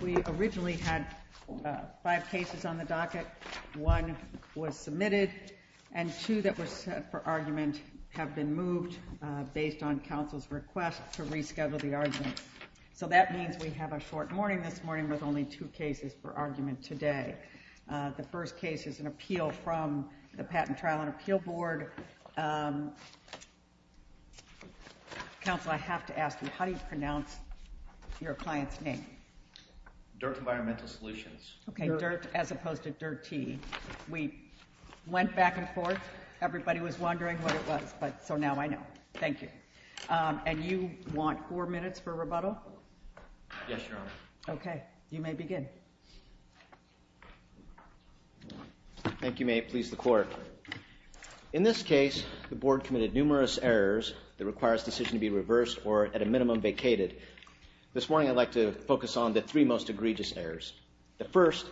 We originally had five cases on the docket. One was submitted, and two that were set for argument have been moved based on Council's request to reschedule the argument. So that means we have a short morning this morning with only two cases for argument today. The first case is an appeal from the Patent Trial and Appeal Board. Council, I have to ask you, how do you pronounce your client's name? DIRTT Environmental Solutions. Okay, DIRTT as opposed to DIRT-T. We went back and forth. Everybody was wondering what it was, so now I know. Thank you. And you want four minutes for rebuttal? Yes, Your Honor. Okay, you may begin. Thank you, may it please the Court. In this case, the Board committed numerous errors that require this decision to be reversed or at a minimum vacated. This morning I'd like to focus on the three most egregious errors. The first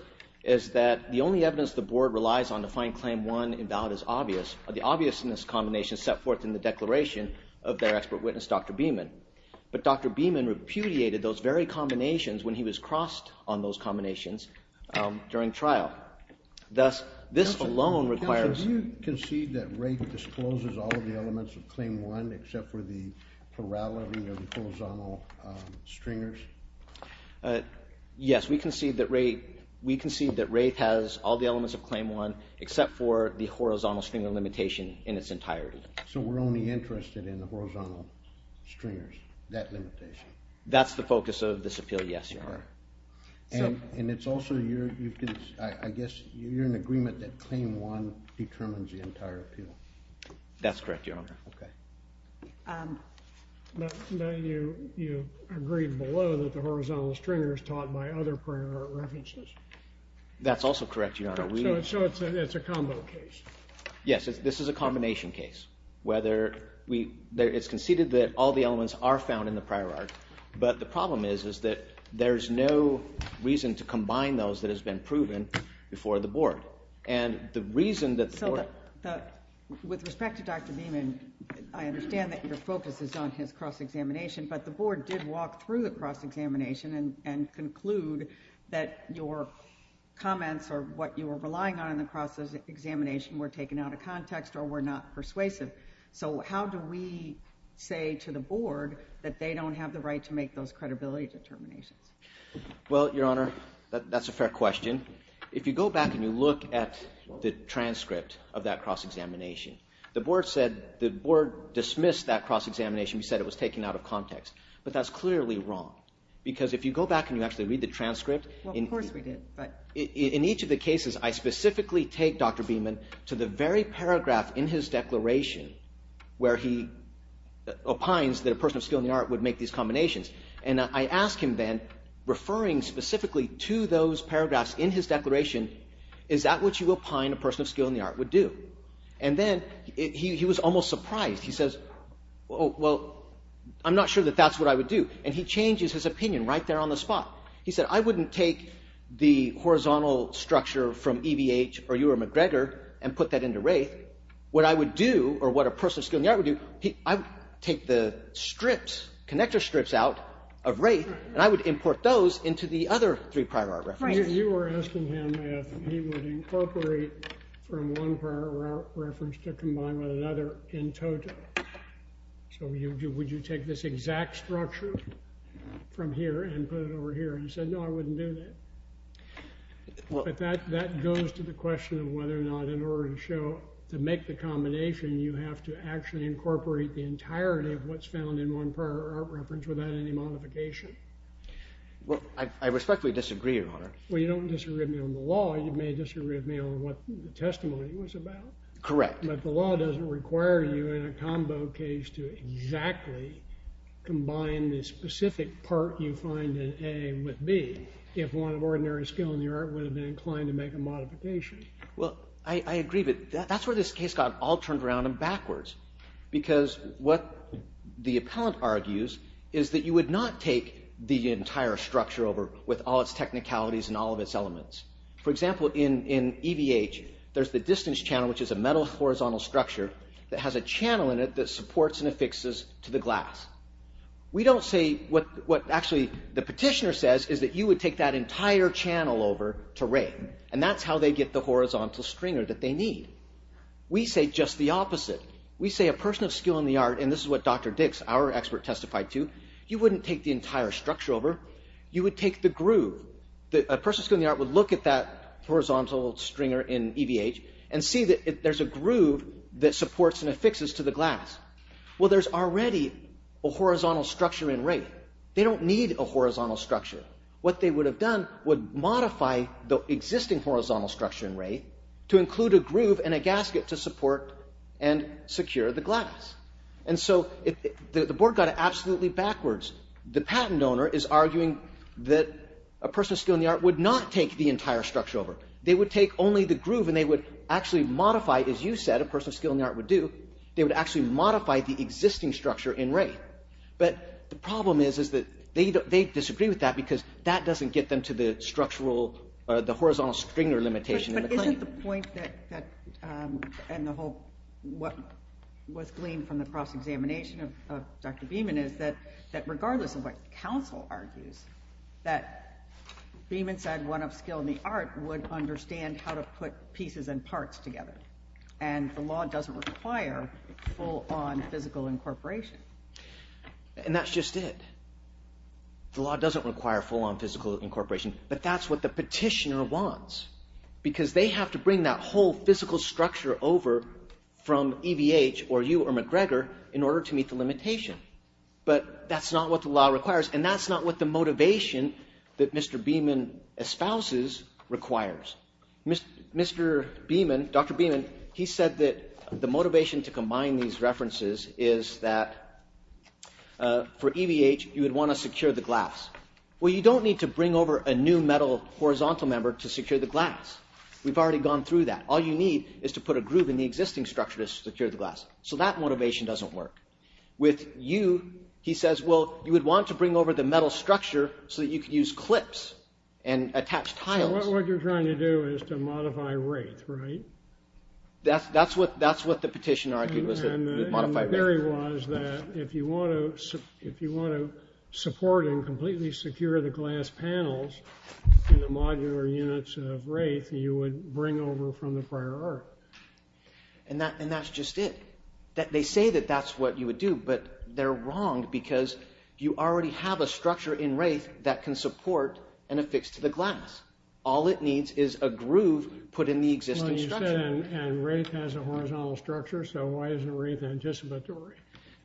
is that the only evidence the Board relies on to find Claim 1 invalid is obvious. The obviousness combination set forth in the declaration of their expert witness, Dr. Beeman. But Dr. Beeman repudiated those very combinations when he was crossed on those combinations during trial. Thus, this alone requires... Council, do you concede that Wraith discloses all of the elements of Claim 1 except for the parallel or the horizontal stringers? Yes, we concede that Wraith has all the elements of Claim 1 except for the horizontal stringer limitation in its entirety. So we're only interested in the horizontal stringers, that limitation? That's the focus of this appeal, yes, Your Honor. And it's also, I guess you're in agreement that Claim 1 determines the entire appeal? That's correct, Your Honor. Now you agree below that the horizontal stringer is taught by other prior art references? That's also correct, Your Honor. So it's a combo case? Yes, this is a combination case. It's conceded that all the elements are found in the prior art, but the problem is that there's no reason to combine those that have been proven before the Board. So with respect to Dr. Beeman, I understand that your focus is on his cross-examination, but the Board did walk through the cross-examination and conclude that your comments or what you were relying on in the cross-examination were taken out of context or were not persuasive. So how do we say to the Board that they don't have the right to make those credibility determinations? Well, Your Honor, that's a fair question. If you go back and you look at the transcript of that cross-examination, the Board said the Board dismissed that cross-examination. We said it was taken out of context. But that's clearly wrong because if you go back and you actually read the transcript in each of the cases, I specifically take Dr. Beeman to the very paragraph in his declaration where he opines that a person of skill in the art would make these combinations. And I ask him then, referring specifically to those paragraphs in his declaration, is that what you opine a person of skill in the art would do? And then he was almost surprised. He says, well, I'm not sure that that's what I would do. And he changes his opinion right there on the spot. He said, I wouldn't take the horizontal structure from E.B.H. or E.R. MacGregor and put that into Wraith. What I would do or what a person of skill in the art would do, I would take the strips, connector strips out of Wraith, and I would import those into the other three prior art references. You were asking him if he would incorporate from one prior art reference to combine with another in total. So would you take this exact structure from here and put it over here? And he said, no, I wouldn't do that. But that goes to the question of whether or not in order to make the combination, you have to actually incorporate the entirety of what's found in one prior art reference without any modification. Well, I respectfully disagree, Your Honor. Well, you don't disagree with me on the law. You may disagree with me on what the testimony was about. Correct. But the law doesn't require you in a combo case to exactly combine the specific part you find in A with B. If one of ordinary skill in the art would have been inclined to make a modification. Well, I agree, but that's where this case got all turned around and backwards. Because what the appellant argues is that you would not take the entire structure over with all its technicalities and all of its elements. For example, in EVH, there's the distance channel, which is a metal horizontal structure that has a channel in it that supports and affixes to the glass. We don't say what actually the petitioner says is that you would take that entire channel over to rate. And that's how they get the horizontal stringer that they need. We say just the opposite. We say a person of skill in the art, and this is what Dr. Dix, our expert, testified to, you wouldn't take the entire structure over. You would take the groove. A person of skill in the art would look at that horizontal stringer in EVH and see that there's a groove that supports and affixes to the glass. Well, there's already a horizontal structure in rate. They don't need a horizontal structure. What they would have done would modify the existing horizontal structure in rate to include a groove and a gasket to support and secure the glass. And so the board got it absolutely backwards. The patent owner is arguing that a person of skill in the art would not take the entire structure over. They would take only the groove, and they would actually modify, as you said, a person of skill in the art would do. They would actually modify the existing structure in rate. But the problem is that they disagree with that because that doesn't get them to the horizontal stringer limitation in the claim. But isn't the point that – and what was gleaned from the cross-examination of Dr. Beeman is that regardless of what counsel argues, that Beeman said one of skill in the art would understand how to put pieces and parts together, and the law doesn't require full-on physical incorporation. And that's just it. The law doesn't require full-on physical incorporation, but that's what the petitioner wants because they have to bring that whole physical structure over from EVH or you or McGregor in order to meet the limitation. But that's not what the law requires, and that's not what the motivation that Mr. Beeman espouses requires. Mr. Beeman, Dr. Beeman, he said that the motivation to combine these references is that for EVH, you would want to secure the glass. Well, you don't need to bring over a new metal horizontal member to secure the glass. We've already gone through that. All you need is to put a groove in the existing structure to secure the glass. So that motivation doesn't work. With you, he says, well, you would want to bring over the metal structure so that you could use clips and attach tiles. So what you're trying to do is to modify Wraith, right? That's what the petitioner argued, was to modify Wraith. And the theory was that if you want to support and completely secure the glass panels in the modular units of Wraith, you would bring over from the prior art. And that's just it. They say that that's what you would do, but they're wrong because you already have a structure in Wraith that can support and affix to the glass. All it needs is a groove put in the existing structure. And Wraith has a horizontal structure, so why isn't Wraith anticipatory?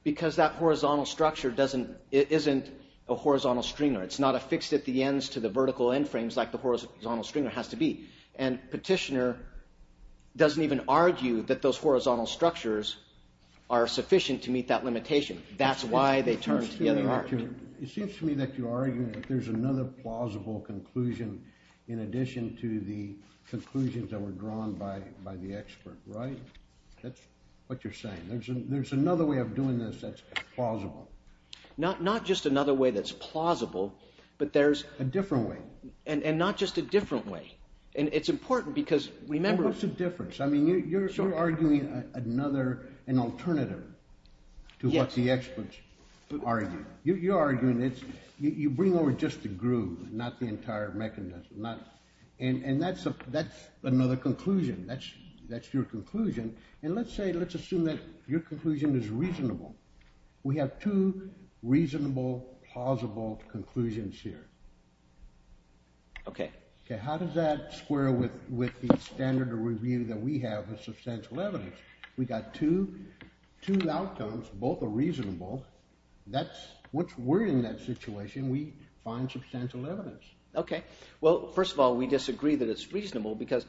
Because that horizontal structure isn't a horizontal stringer. It's not affixed at the ends to the vertical end frames like the horizontal stringer has to be. And petitioner doesn't even argue that those horizontal structures are sufficient to meet that limitation. That's why they turned to the other argument. It seems to me that you're arguing that there's another plausible conclusion in addition to the conclusions that were drawn by the expert, right? That's what you're saying. There's another way of doing this that's plausible. Not just another way that's plausible, but there's… A different way. And not just a different way. And it's important because remember… What's the difference? I mean, you're sort of arguing another, an alternative to what the experts argue. You're arguing that you bring over just the groove, not the entire mechanism. And that's another conclusion. That's your conclusion. And let's say, let's assume that your conclusion is reasonable. We have two reasonable, plausible conclusions here. Okay. How does that square with the standard of review that we have with substantial evidence? We've got two outcomes. Both are reasonable. That's – once we're in that situation, we find substantial evidence. Okay. Well, first of all, we disagree that it's reasonable because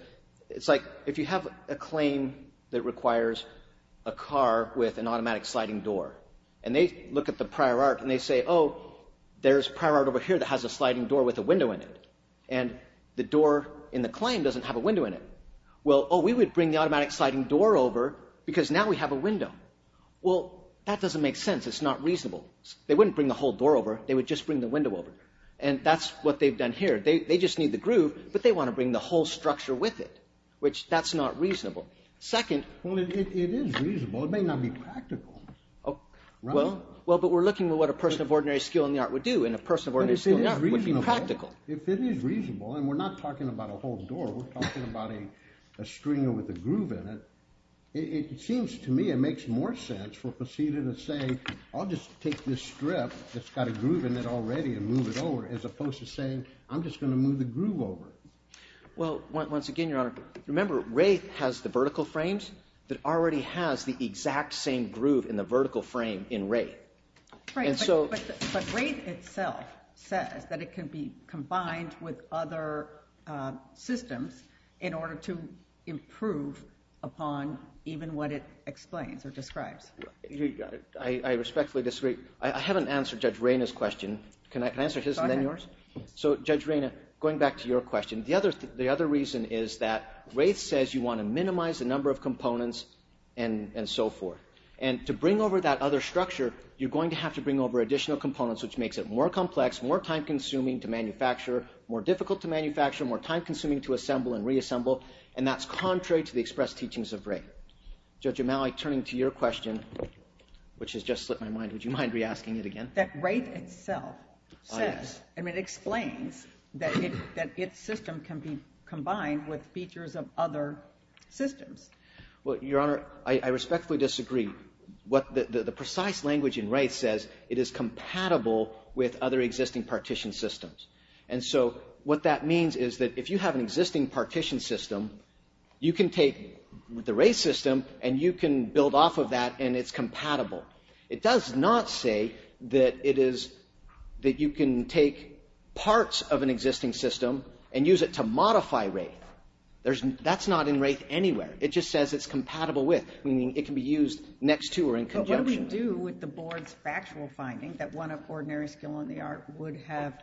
it's like if you have a claim that requires a car with an automatic sliding door. And they look at the prior art and they say, oh, there's prior art over here that has a sliding door with a window in it. And the door in the claim doesn't have a window in it. Well, oh, we would bring the automatic sliding door over because now we have a window. Well, that doesn't make sense. It's not reasonable. They wouldn't bring the whole door over. They would just bring the window over. And that's what they've done here. They just need the groove, but they want to bring the whole structure with it, which that's not reasonable. Second – Well, it is reasonable. It may not be practical. Well, but we're looking at what a person of ordinary skill in the art would do, and a person of ordinary skill in the art would be practical. If it is reasonable, and we're not talking about a whole door. We're talking about a stringer with a groove in it. It seems to me it makes more sense for proceeding to say, I'll just take this strip that's got a groove in it already and move it over, as opposed to saying, I'm just going to move the groove over. Well, once again, Your Honor, remember Wraith has the vertical frames that already has the exact same groove in the vertical frame in Wraith. Right, but Wraith itself says that it can be combined with other systems in order to improve upon even what it explains or describes. I respectfully disagree. I haven't answered Judge Reyna's question. Can I answer his and then yours? Go ahead. So, Judge Reyna, going back to your question, the other reason is that Wraith says you want to minimize the number of components and so forth. And to bring over that other structure, you're going to have to bring over additional components, which makes it more complex, more time-consuming to manufacture, more difficult to manufacture, more time-consuming to assemble and reassemble. And that's contrary to the expressed teachings of Wraith. Judge O'Malley, turning to your question, which has just slipped my mind, would you mind re-asking it again? That Wraith itself says and it explains that its system can be combined with features of other systems. Well, Your Honor, I respectfully disagree. The precise language in Wraith says it is compatible with other existing partition systems. And so what that means is that if you have an existing partition system, you can take the Wraith system and you can build off of that and it's compatible. It does not say that it is that you can take parts of an existing system and use it to modify Wraith. That's not in Wraith anywhere. It just says it's compatible with, meaning it can be used next to or in conjunction. But what do we do with the board's factual finding that one of ordinary skill in the art would have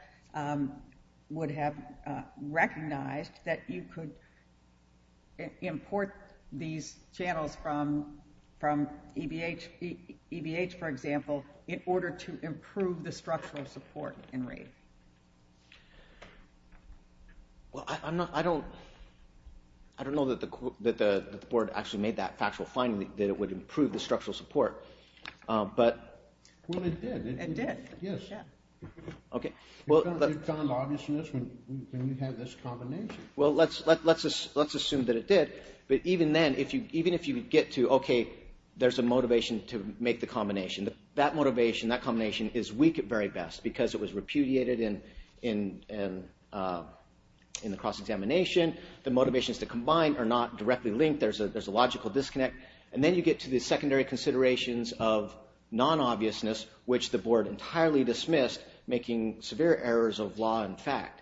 recognized that you could import these channels from EBH, for example, in order to improve the structural support in Wraith? Well, I don't know that the board actually made that factual finding that it would improve the structural support. Well, it did. It did. Yes. Okay. Well, let's assume that it did. But even then, even if you would get to, okay, there's a motivation to make the combination. That motivation, that combination is weak at very best because it was repudiated in the cross-examination. The motivations to combine are not directly linked. There's a logical disconnect. And then you get to the secondary considerations of non-obviousness, which the board entirely dismissed, making severe errors of law and fact.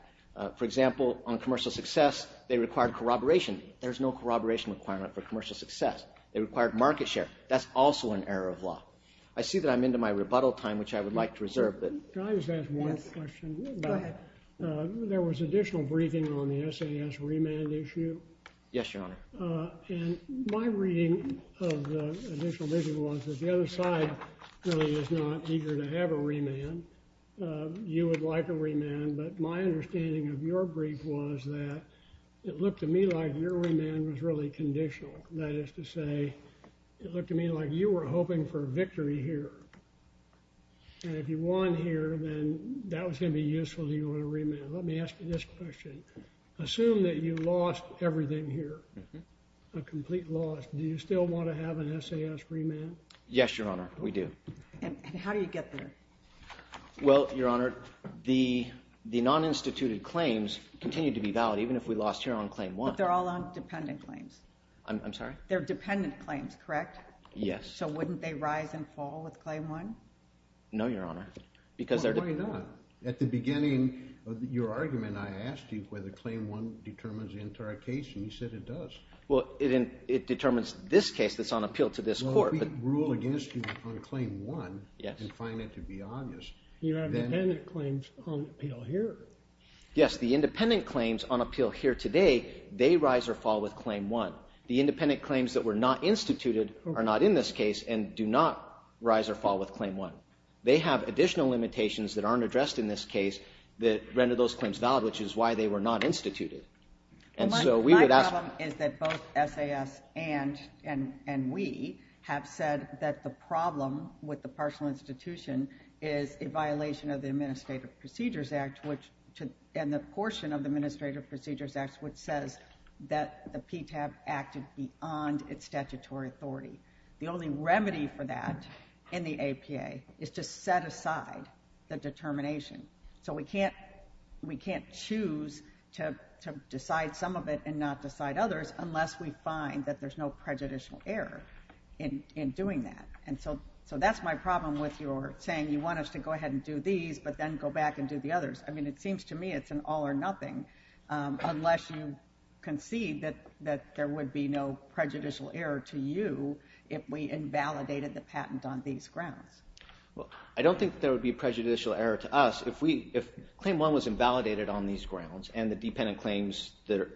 For example, on commercial success, they required corroboration. There's no corroboration requirement for commercial success. They required market share. That's also an error of law. I see that I'm into my rebuttal time, which I would like to reserve. Can I just ask one question? Go ahead. There was additional briefing on the SAS remand issue. Yes, Your Honor. And my reading of the additional briefing was that the other side really is not eager to have a remand. You would like a remand. But my understanding of your brief was that it looked to me like your remand was really conditional. That is to say, it looked to me like you were hoping for a victory here. And if you won here, then that was going to be useful to you on a remand. Let me ask you this question. Assume that you lost everything here, a complete loss. Do you still want to have an SAS remand? Yes, Your Honor. We do. And how do you get there? Well, Your Honor, the non-instituted claims continue to be valid, even if we lost here on claim one. But they're all on dependent claims. I'm sorry? They're dependent claims, correct? Yes. So wouldn't they rise and fall with claim one? No, Your Honor, because they're dependent. Why not? At the beginning of your argument, I asked you whether claim one determines the entire case, and you said it does. Well, it determines this case that's on appeal to this court. Well, if we rule against you on claim one and find it to be obvious, then— You have dependent claims on appeal here. Yes, the independent claims on appeal here today, they rise or fall with claim one. The independent claims that were not instituted are not in this case and do not rise or fall with claim one. They have additional limitations that aren't addressed in this case that render those claims valid, which is why they were not instituted. My problem is that both SAS and we have said that the problem with the partial institution is a violation of the Administrative Procedures Act, and the portion of the Administrative Procedures Act which says that the PTAP acted beyond its statutory authority. The only remedy for that in the APA is to set aside the determination. So we can't choose to decide some of it and not decide others unless we find that there's no prejudicial error in doing that. And so that's my problem with your saying you want us to go ahead and do these but then go back and do the others. I mean, it seems to me it's an all or nothing unless you concede that there would be no prejudicial error to you if we invalidated the patent on these grounds. Well, I don't think there would be prejudicial error to us. If claim one was invalidated on these grounds and the dependent claims that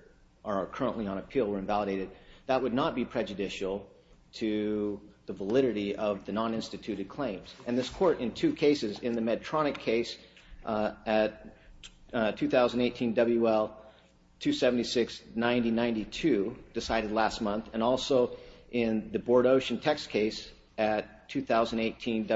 are currently on appeal were invalidated, that would not be prejudicial to the validity of the non-instituted claims. And this court in two cases, in the Medtronic case at 2018 WL-276-9092, decided last month, and also in the Bordeauxian text case at 2018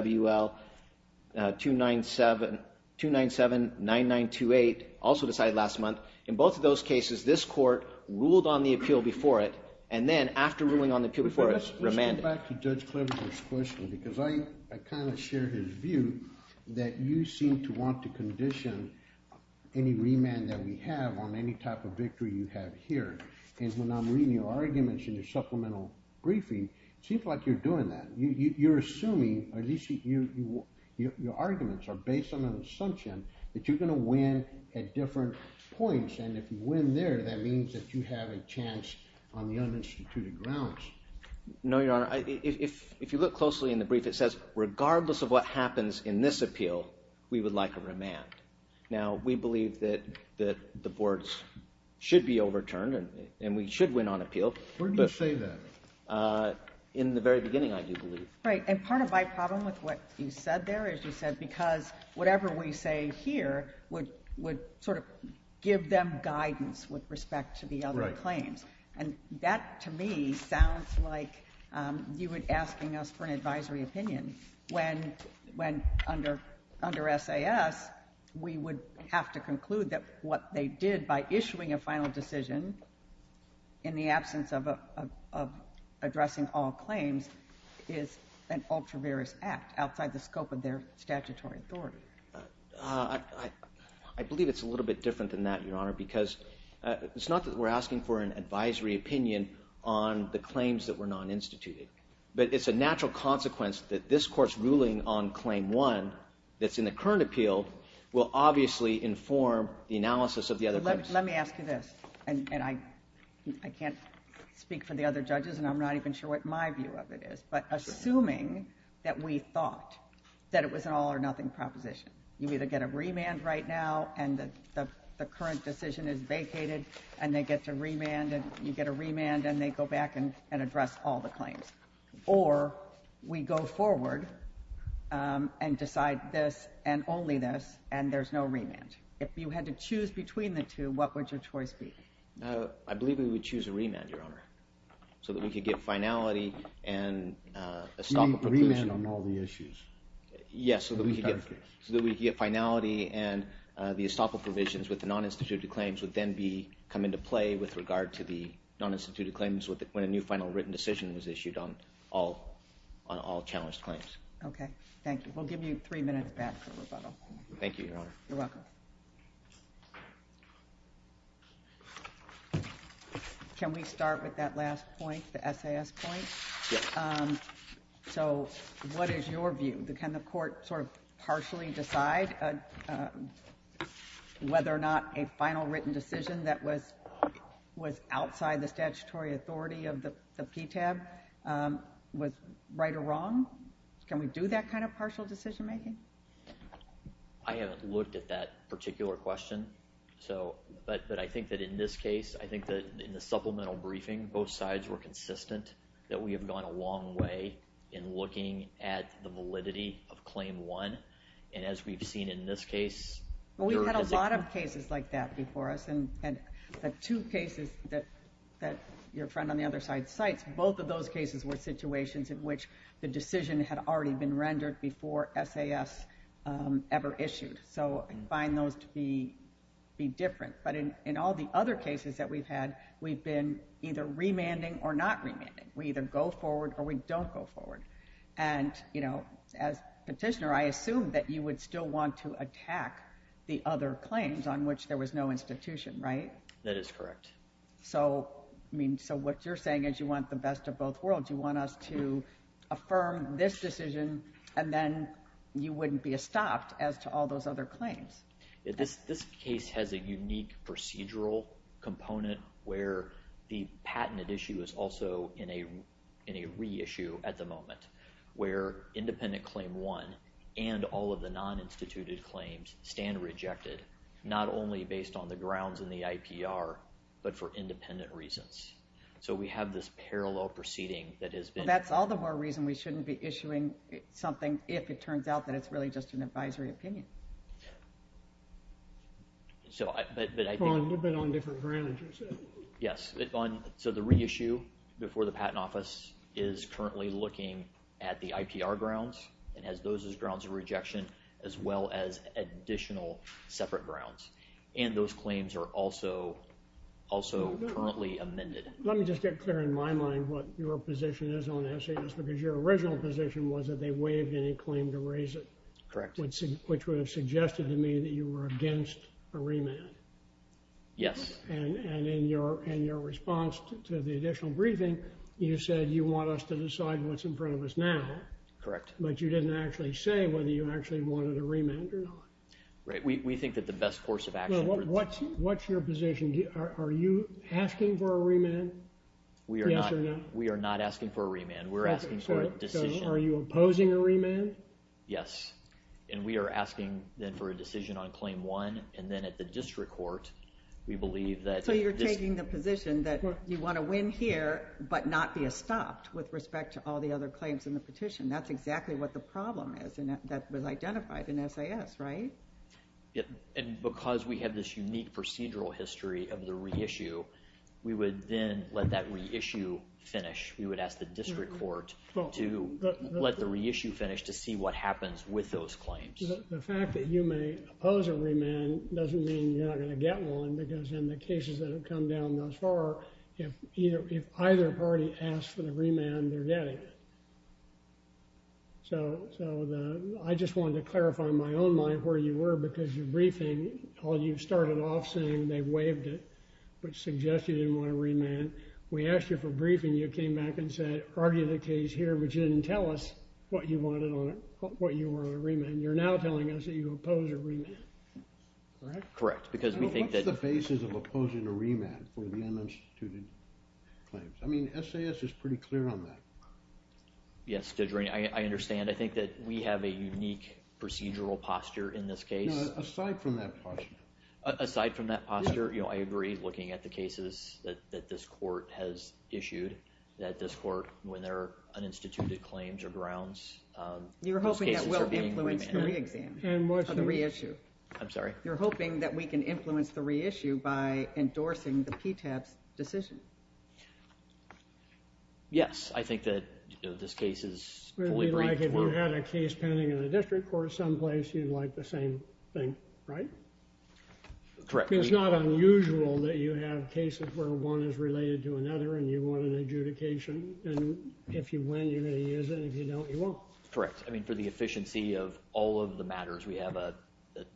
WL-297-9928, also decided last month. In both of those cases, this court ruled on the appeal before it, and then after ruling on the appeal before it, remanded. Let's get back to Judge Cleaver's question because I kind of share his view that you seem to want to condition any remand that we have on any type of victory you have here. And when I'm reading your arguments in your supplemental briefing, it seems like you're doing that. You're assuming, or at least your arguments are based on an assumption that you're going to win at different points. And if you win there, that means that you have a chance on the uninstituted grounds. No, Your Honor. If you look closely in the brief, it says, regardless of what happens in this appeal, we would like a remand. Now, we believe that the boards should be overturned and we should win on appeal. Where do you say that? In the very beginning, I do believe. Right. And part of my problem with what you said there is you said because whatever we say here would sort of give them guidance with respect to the other claims. And that, to me, sounds like you were asking us for an advisory opinion. I believe it's a little bit different than that, Your Honor, because it's not that we're asking for an advisory opinion on the claims that were non-instituted. But it's a natural consequence that this Court's ruling on Claim 1 that's in the current appeal will obviously inform the analysis of the other claims. Let me ask you this. And I can't speak for the other judges, and I'm not even sure what my view of it is. But assuming that we thought that it was an all-or-nothing proposition, you either get a remand right now and the current decision is vacated, and they get to remand, and you get a remand, and they go back and address all the claims. Or we go forward and decide this and only this, and there's no remand. If you had to choose between the two, what would your choice be? I believe we would choose a remand, Your Honor, so that we could get finality and estoppel provisions. You mean remand on all the issues? Yes, so that we could get finality and the estoppel provisions with the non-instituted claims would then come into play with regard to the non-instituted claims when a new final written decision was issued on all challenged claims. Okay. Thank you. We'll give you three minutes back for rebuttal. Thank you, Your Honor. You're welcome. Can we start with that last point, the SAS point? Yes. So what is your view? Can the court sort of partially decide whether or not a final written decision that was outside the statutory authority of the PTAB was right or wrong? Can we do that kind of partial decision making? I haven't looked at that particular question. But I think that in this case, I think that in the supplemental briefing, both sides were consistent that we have gone a long way in looking at the validity of Claim 1. And as we've seen in this case, We've had a lot of cases like that before us, and the two cases that your friend on the other side cites, both of those cases were situations in which the decision had already been rendered before SAS ever issued. So I find those to be different. But in all the other cases that we've had, we've been either remanding or not remanding. We either go forward or we don't go forward. And, you know, as petitioner, I assume that you would still want to attack the other claims on which there was no institution, right? That is correct. So, I mean, so what you're saying is you want the best of both worlds. You want us to affirm this decision, and then you wouldn't be stopped as to all those other claims. This case has a unique procedural component where the patented issue is also in a reissue at the moment, where independent Claim 1 and all of the non-instituted claims stand rejected, not only based on the grounds in the IPR, but for independent reasons. So we have this parallel proceeding that has been— Well, that's all the more reason we shouldn't be issuing something if it turns out that it's really just an advisory opinion. But I think— You've been on different grounds, as you said. Yes. So the reissue before the Patent Office is currently looking at the IPR grounds and has those as grounds of rejection as well as additional separate grounds. And those claims are also currently amended. Let me just get clear in my mind what your position is on this, because your original position was that they waived any claim to raise it. Correct. Which would have suggested to me that you were against a remand. Yes. And in your response to the additional briefing, you said you want us to decide what's in front of us now. Correct. But you didn't actually say whether you actually wanted a remand or not. Right. We think that the best course of action— What's your position? Are you asking for a remand? Yes or no? We are not asking for a remand. We're asking for a decision. So are you opposing a remand? Yes. And we are asking then for a decision on Claim 1. And then at the district court, we believe that— So you're taking the position that you want to win here but not be stopped with respect to all the other claims in the petition. That's exactly what the problem is, and that was identified in SIS, right? Yes. And because we have this unique procedural history of the reissue, we would then let that reissue finish. We would ask the district court to let the reissue finish to see what happens with those claims. The fact that you may oppose a remand doesn't mean you're not going to get one, because in the cases that have come down thus far, if either party asks for the remand, they're getting it. So I just wanted to clarify in my own mind where you were because your briefing, you started off saying they waived it but suggested you didn't want a remand. We asked you for a briefing. You came back and said, argue the case here, but you didn't tell us what you wanted on it, what you were on a remand. You're now telling us that you oppose a remand, correct? Correct, because we think that— In cases of opposing a remand for the uninstituted claims. I mean, SIS is pretty clear on that. Yes, Judge Rainey, I understand. I think that we have a unique procedural posture in this case. No, aside from that posture. Aside from that posture, I agree looking at the cases that this court has issued, that this court, when there are uninstituted claims or grounds, those cases are being remanded. You're hoping that will influence the reexamination of the reissue. I'm sorry? You're hoping that we can influence the reissue by endorsing the PTAP's decision. Yes, I think that this case is fully briefed. It would be like if you had a case pending in a district court someplace, you'd like the same thing, right? Correct. It's not unusual that you have cases where one is related to another and you want an adjudication, and if you win, you're going to use it, and if you don't, you won't. Correct. I mean, for the efficiency of all of the matters, we have a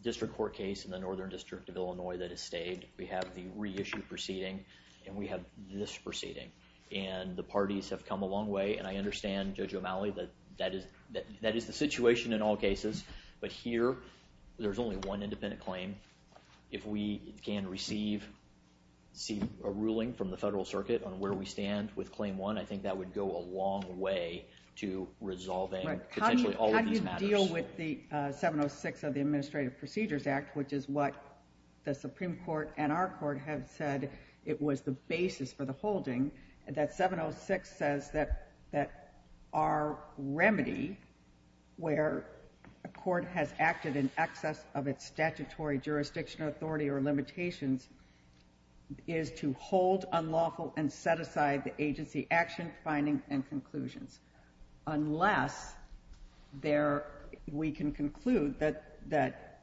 district court case in the Northern District of Illinois that has stayed. We have the reissue proceeding, and we have this proceeding, and the parties have come a long way, and I understand, Judge O'Malley, that that is the situation in all cases, but here, there's only one independent claim. If we can receive a ruling from the federal circuit on where we stand with claim one, I think that would go a long way to resolving potentially all of these matters. How do you deal with the 706 of the Administrative Procedures Act, which is what the Supreme Court and our court have said it was the basis for the holding, that 706 says that our remedy where a court has acted in excess of its statutory jurisdiction, authority, or limitations is to hold unlawful and set aside the agency action, findings, and conclusions, unless we can conclude that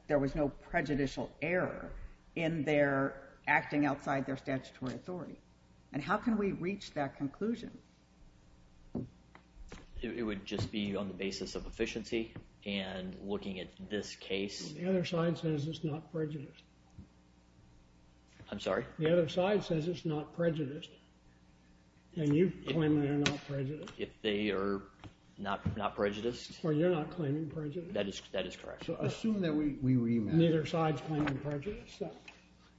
there was no prejudicial error in their acting outside their statutory authority, and how can we reach that conclusion? It would just be on the basis of efficiency and looking at this case. The other side says it's not prejudiced. I'm sorry? The other side says it's not prejudiced, and you claim they're not prejudiced. If they are not prejudiced? Or you're not claiming prejudice. That is correct. So assume that we remand. Neither side's claiming prejudice, so.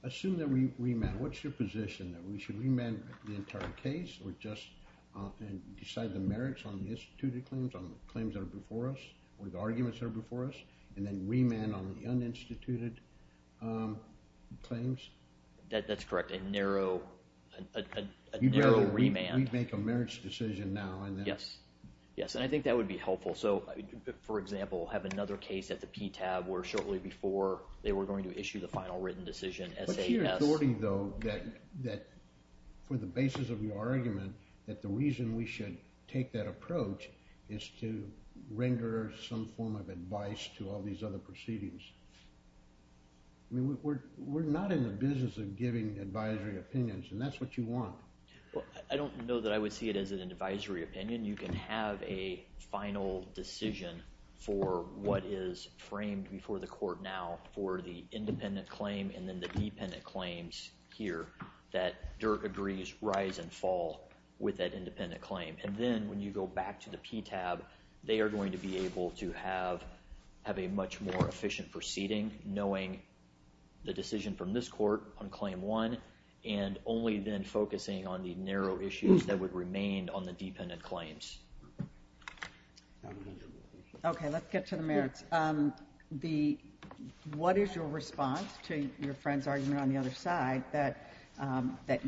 Assume that we remand. What's your position? That we should remand the entire case or just decide the merits on the instituted claims, on the claims that are before us or the arguments that are before us, and then remand on the uninstituted claims? That's correct, a narrow remand. You'd rather we make a merits decision now and then? Yes, and I think that would be helpful. So, for example, have another case at the PTAB where shortly before they were going to issue the final written decision, S.A.S. There's a majority, though, that for the basis of your argument, that the reason we should take that approach is to render some form of advice to all these other proceedings. I mean, we're not in the business of giving advisory opinions, and that's what you want. Well, I don't know that I would see it as an advisory opinion. You can have a final decision for what is framed before the court now for the independent claim and then the dependent claims here that Dirk agrees rise and fall with that independent claim. And then when you go back to the PTAB, they are going to be able to have a much more efficient proceeding, knowing the decision from this court on claim one and only then focusing on the narrow issues that would remain on the dependent claims. Okay, let's get to the merits. What is your response to your friend's argument on the other side that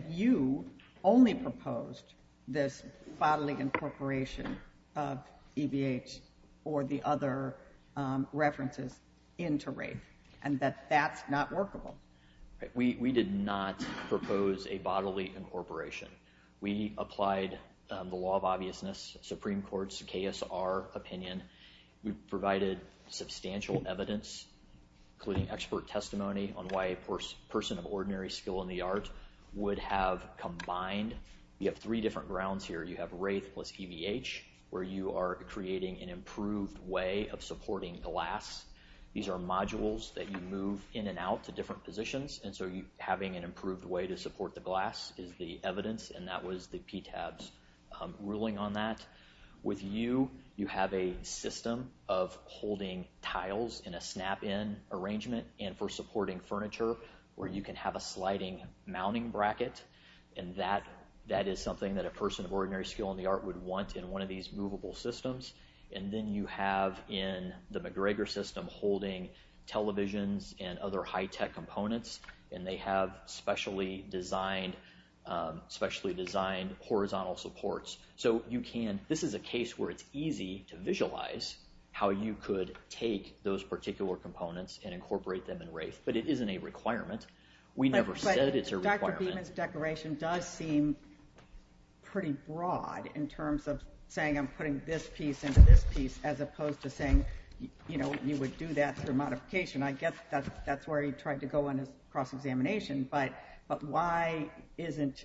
you only proposed this bodily incorporation of EBH or the other references into RAFE and that that's not workable? We did not propose a bodily incorporation. We applied the law of obviousness, Supreme Court's KSR opinion. We provided substantial evidence, including expert testimony, on why a person of ordinary skill in the art would have combined. We have three different grounds here. You have RAFE plus EBH, where you are creating an improved way of supporting glass. These are modules that you move in and out to different positions, and so having an improved way to support the glass is the evidence, and that was the PTAB's ruling on that. With you, you have a system of holding tiles in a snap-in arrangement and for supporting furniture where you can have a sliding mounting bracket, and that is something that a person of ordinary skill in the art would want in one of these movable systems. And then you have in the McGregor system holding televisions and other high-tech components, and they have specially designed horizontal supports. So this is a case where it's easy to visualize how you could take those particular components and incorporate them in RAFE, but it isn't a requirement. We never said it's a requirement. But Dr. Beeman's declaration does seem pretty broad in terms of saying I'm putting this piece into this piece as opposed to saying you would do that through modification. I guess that's where he tried to go on his cross-examination, but why isn't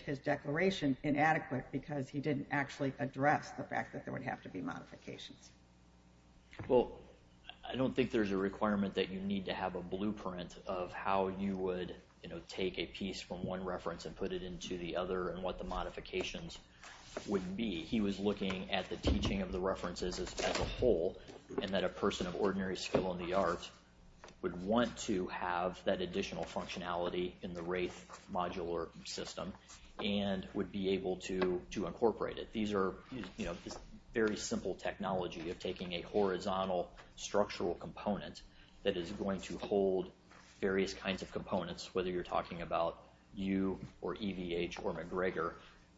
his declaration inadequate? Because he didn't actually address the fact that there would have to be modifications. Well, I don't think there's a requirement that you need to have a blueprint of how you would take a piece from one reference and put it into the other and what the modifications would be. He was looking at the teaching of the references as a whole and that a person of ordinary skill in the arts would want to have that additional functionality in the RAFE modular system and would be able to incorporate it. These are very simple technology of taking a horizontal structural component that is going to hold various kinds of components, whether you're talking about U or EVH or McGregor,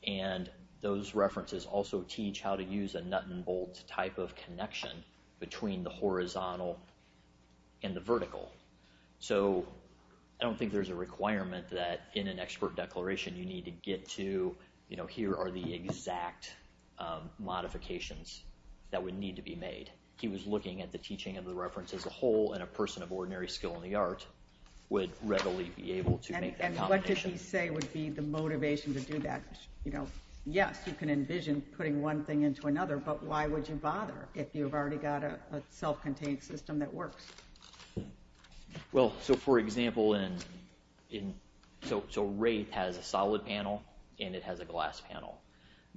and those references also teach how to use a nut and bolt type of connection between the horizontal and the vertical. So I don't think there's a requirement that in an expert declaration you need to get to, here are the exact modifications that would need to be made. He was looking at the teaching of the references as a whole and a person of ordinary skill in the arts would readily be able to make that combination. What would he say would be the motivation to do that? Yes, you can envision putting one thing into another, but why would you bother if you've already got a self-contained system that works? For example, RAFE has a solid panel and it has a glass panel.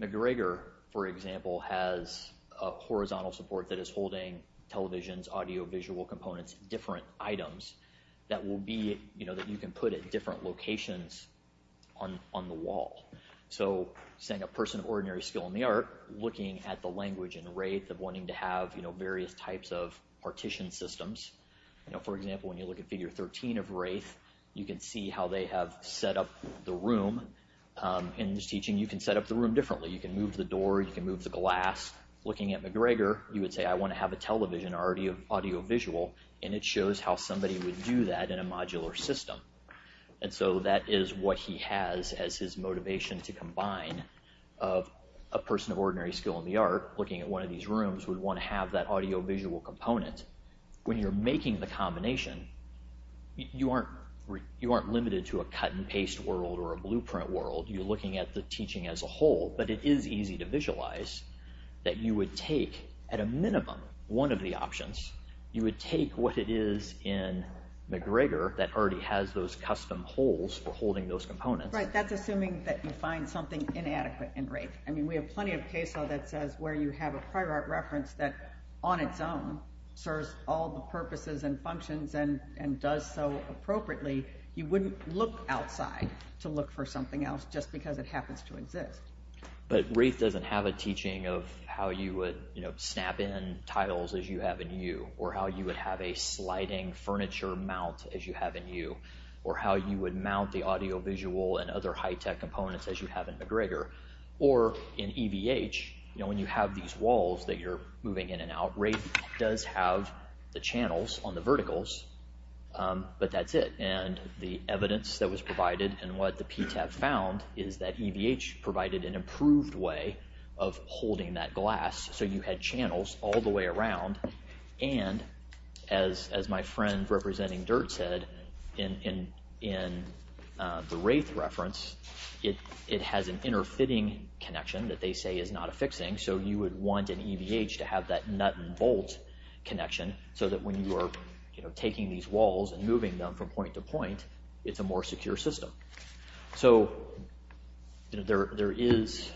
McGregor, for example, has a horizontal support that is holding televisions, audiovisual components, different items that you can put at different locations on the wall. So, saying a person of ordinary skill in the art, looking at the language in RAFE of wanting to have various types of partition systems. For example, when you look at Figure 13 of RAFE, you can see how they have set up the room. In this teaching, you can set up the room differently. You can move the door, you can move the glass. Looking at McGregor, you would say, I want to have a television or audiovisual and it shows how somebody would do that in a modular system. And so that is what he has as his motivation to combine. A person of ordinary skill in the art, looking at one of these rooms, would want to have that audiovisual component. When you're making the combination, you aren't limited to a cut-and-paste world or a blueprint world. You're looking at the teaching as a whole. But it is easy to visualize that you would take, at a minimum, one of the options. You would take what it is in McGregor that already has those custom holes for holding those components. Right, that's assuming that you find something inadequate in RAFE. I mean, we have plenty of cases where you have a prior art reference that, on its own, serves all the purposes and functions and does so appropriately. You wouldn't look outside to look for something else just because it happens to exist. But RAFE doesn't have a teaching of how you would snap in tiles as you have in U, or how you would have a sliding furniture mount as you have in U, or how you would mount the audiovisual and other high-tech components as you have in McGregor. Or, in EVH, when you have these walls that you're moving in and out, RAFE does have the channels on the verticals, but that's it. And the evidence that was provided, and what the PTAB found, is that EVH provided an improved way of holding that glass, so you had channels all the way around. And, as my friend representing DIRT said in the RAFE reference, it has an inter-fitting connection that they say is not a fixing, so you would want an EVH to have that nut and bolt connection, so that when you are taking these walls and moving them from point to point, it's a more secure system. So, there is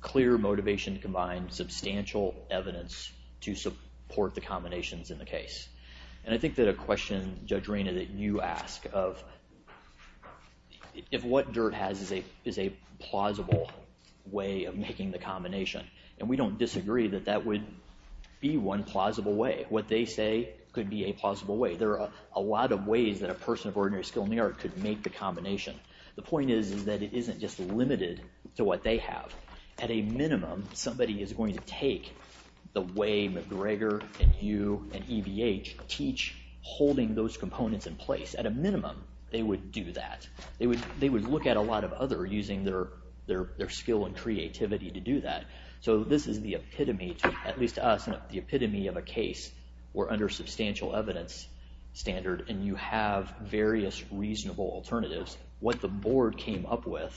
clear motivation to combine substantial evidence to support the combinations in the case. And I think that a question, Judge Reyna, that you ask of, if what DIRT has is a plausible way of making the combination, and we don't disagree that that would be one plausible way. What they say could be a plausible way. There are a lot of ways that a person of ordinary skill in the art could make the combination. The point is that it isn't just limited to what they have. At a minimum, somebody is going to take the way McGregor and you and EVH teach, holding those components in place. At a minimum, they would do that. They would look at a lot of others using their skill and creativity to do that. So, this is the epitome, at least to us, the epitome of a case where under substantial evidence standard, and you have various reasonable alternatives. What the board came up with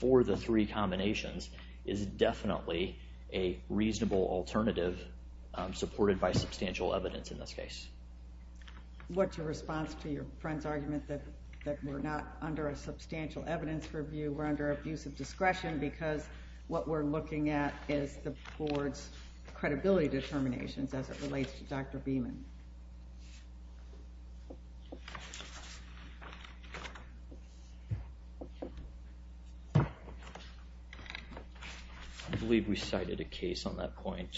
for the three combinations is definitely a reasonable alternative supported by substantial evidence in this case. What's your response to your friend's argument that we're not under a substantial evidence review, we're under abusive discretion because what we're looking at is the board's credibility determinations as it relates to Dr. Beeman? I believe we cited a case on that point.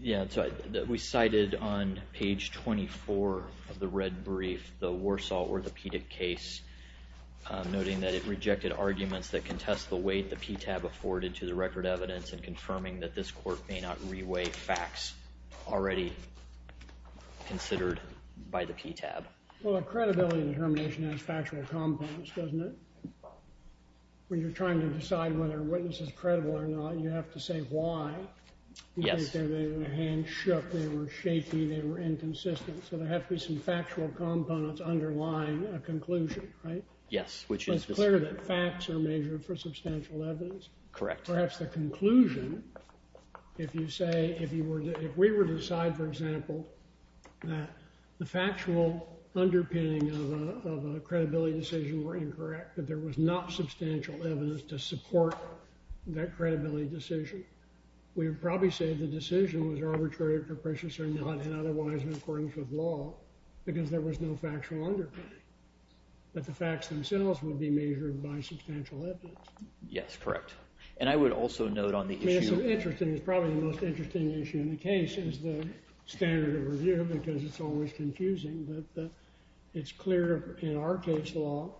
Yeah, we cited on page 24 of the red brief the Warsaw Orthopedic case, noting that it rejected arguments that contest the weight the PTAB afforded to the record evidence and confirming that this court may not re-weigh facts already considered by the PTAB. Well, a credibility determination has factual components, doesn't it? When you're trying to decide whether a witness is credible or not, you have to say why. Yes. They were handshook, they were shaky, they were inconsistent, so there have to be some factual components underlying a conclusion, right? Yes. It's clear that facts are measured for substantial evidence. Correct. Perhaps the conclusion, if you say, if we were to decide, for example, that the factual underpinning of a credibility decision were incorrect, that there was not substantial evidence to support that credibility decision, we would probably say the decision was arbitrary, capricious or not, and otherwise in accordance with law because there was no factual underpinning, that the facts themselves would be measured by substantial evidence. Yes, correct. And I would also note on the issue— because it's always confusing, but it's clear in our case law,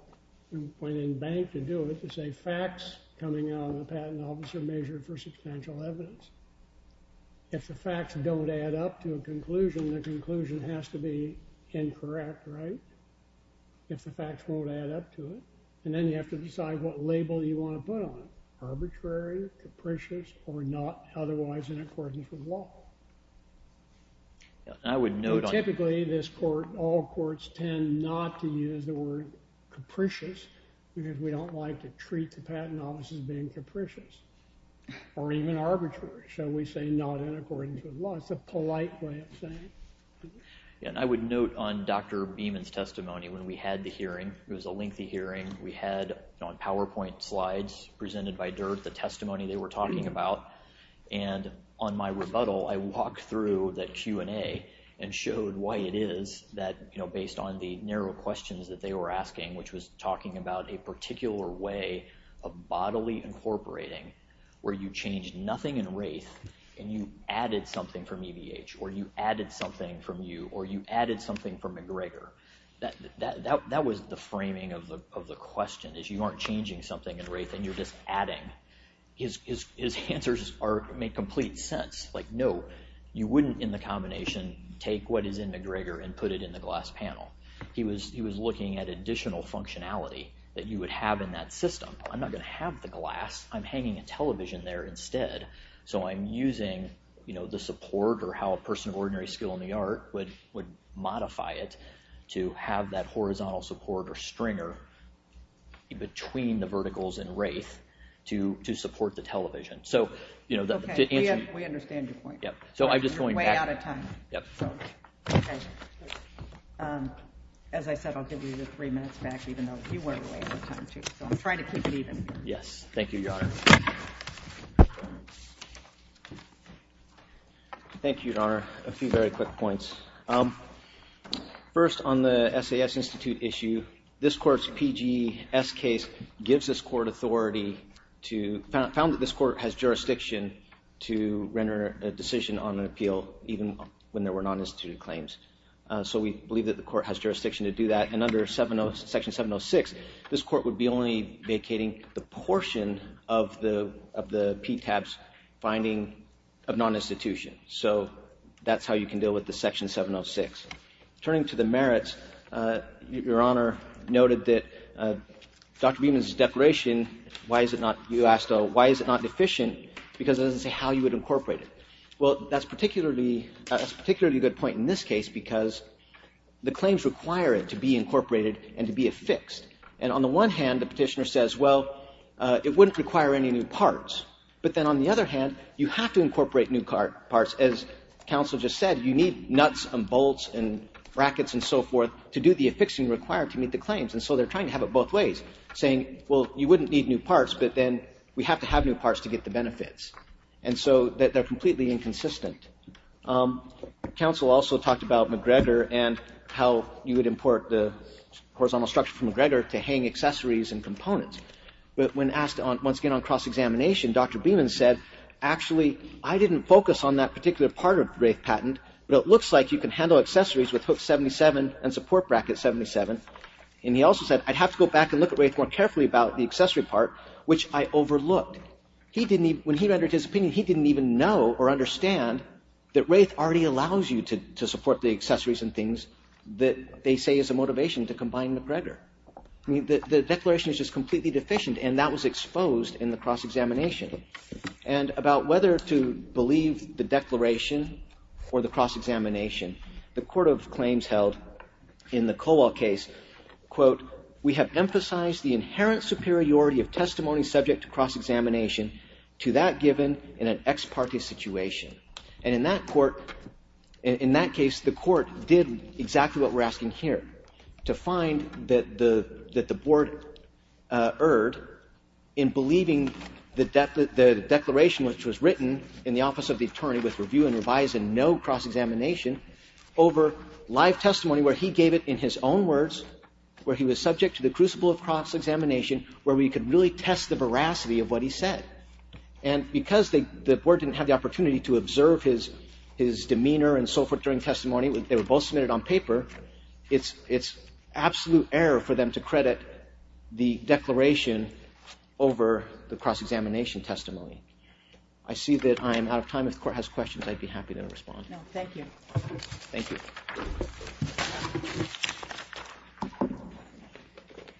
when in bank to do it, to say facts coming out of the patent office are measured for substantial evidence. If the facts don't add up to a conclusion, the conclusion has to be incorrect, right? If the facts won't add up to it. And then you have to decide what label you want to put on it, arbitrary, capricious or not, otherwise in accordance with law. I would note— Typically, this court, all courts tend not to use the word capricious because we don't like to treat the patent offices being capricious or even arbitrary, shall we say, not in accordance with law. It's a polite way of saying it. And I would note on Dr. Beeman's testimony when we had the hearing, it was a lengthy hearing. We had on PowerPoint slides presented by DIRT the testimony they were talking about, and on my rebuttal, I walked through that Q&A and showed why it is that, based on the narrow questions that they were asking, which was talking about a particular way of bodily incorporating where you changed nothing in Wraith and you added something from EVH or you added something from you or you added something from McGregor. That was the framing of the question, is you aren't changing something in Wraith and you're just adding. His answers make complete sense. Like, no, you wouldn't, in the combination, take what is in McGregor and put it in the glass panel. He was looking at additional functionality that you would have in that system. I'm not going to have the glass. I'm hanging a television there instead, so I'm using the support or how a person of ordinary skill in the art would modify it to have that horizontal support or stringer between the verticals in Wraith to support the television. Okay, we understand your point. You're way out of time. As I said, I'll give you the three minutes back, even though you were way out of time, too. I'm trying to keep it even. Yes, thank you, Your Honor. Thank you, Your Honor. A few very quick points. First, on the SAS Institute issue, this court's PGS case gives this court authority to, found that this court has jurisdiction to render a decision on an appeal, even when there were non-instituted claims. So we believe that the court has jurisdiction to do that. And under Section 706, this court would be only vacating the portion of the PTAB's finding of non-institution. So that's how you can deal with the Section 706. Turning to the merits, Your Honor noted that Dr. Beeman's declaration, why is it not deficient? Because it doesn't say how you would incorporate it. Well, that's a particularly good point in this case because the claims require it to be incorporated and to be affixed. And on the one hand, the petitioner says, well, it wouldn't require any new parts. But then on the other hand, you have to incorporate new parts. As counsel just said, you need nuts and bolts and brackets and so forth to do the affixing required to meet the claims. And so they're trying to have it both ways, saying, well, you wouldn't need new parts, but then we have to have new parts to get the benefits. And so they're completely inconsistent. Counsel also talked about McGregor and how you would import the horizontal structure from McGregor to hang accessories and components. But when asked once again on cross-examination, Dr. Beeman said, actually, I didn't focus on that particular part of the Wraith patent, but it looks like you can handle accessories with Hook 77 and Support Bracket 77. And he also said, I'd have to go back and look at Wraith more carefully about the accessory part, which I overlooked. When he rendered his opinion, he didn't even know or understand that Wraith already allows you to support the accessories and things that they say is a motivation to combine McGregor. The declaration is just completely deficient, and that was exposed in the cross-examination. And about whether to believe the declaration or the cross-examination, the court of claims held in the Kowal case, quote, we have emphasized the inherent superiority of testimony subject to cross-examination to that given in an ex parte situation. And in that court, in that case, the court did exactly what we're asking here, to find that the board erred in believing the declaration, which was written in the office of the attorney with review and revise and no cross-examination, over live testimony where he gave it in his own words, where he was subject to the crucible of cross-examination, where we could really test the veracity of what he said. And because the board didn't have the opportunity to observe his demeanor and so forth during testimony, they were both submitted on paper, it's absolute error for them to credit the declaration over the cross-examination testimony. I see that I am out of time. If the court has questions, I'd be happy to respond. No, thank you. Thank you.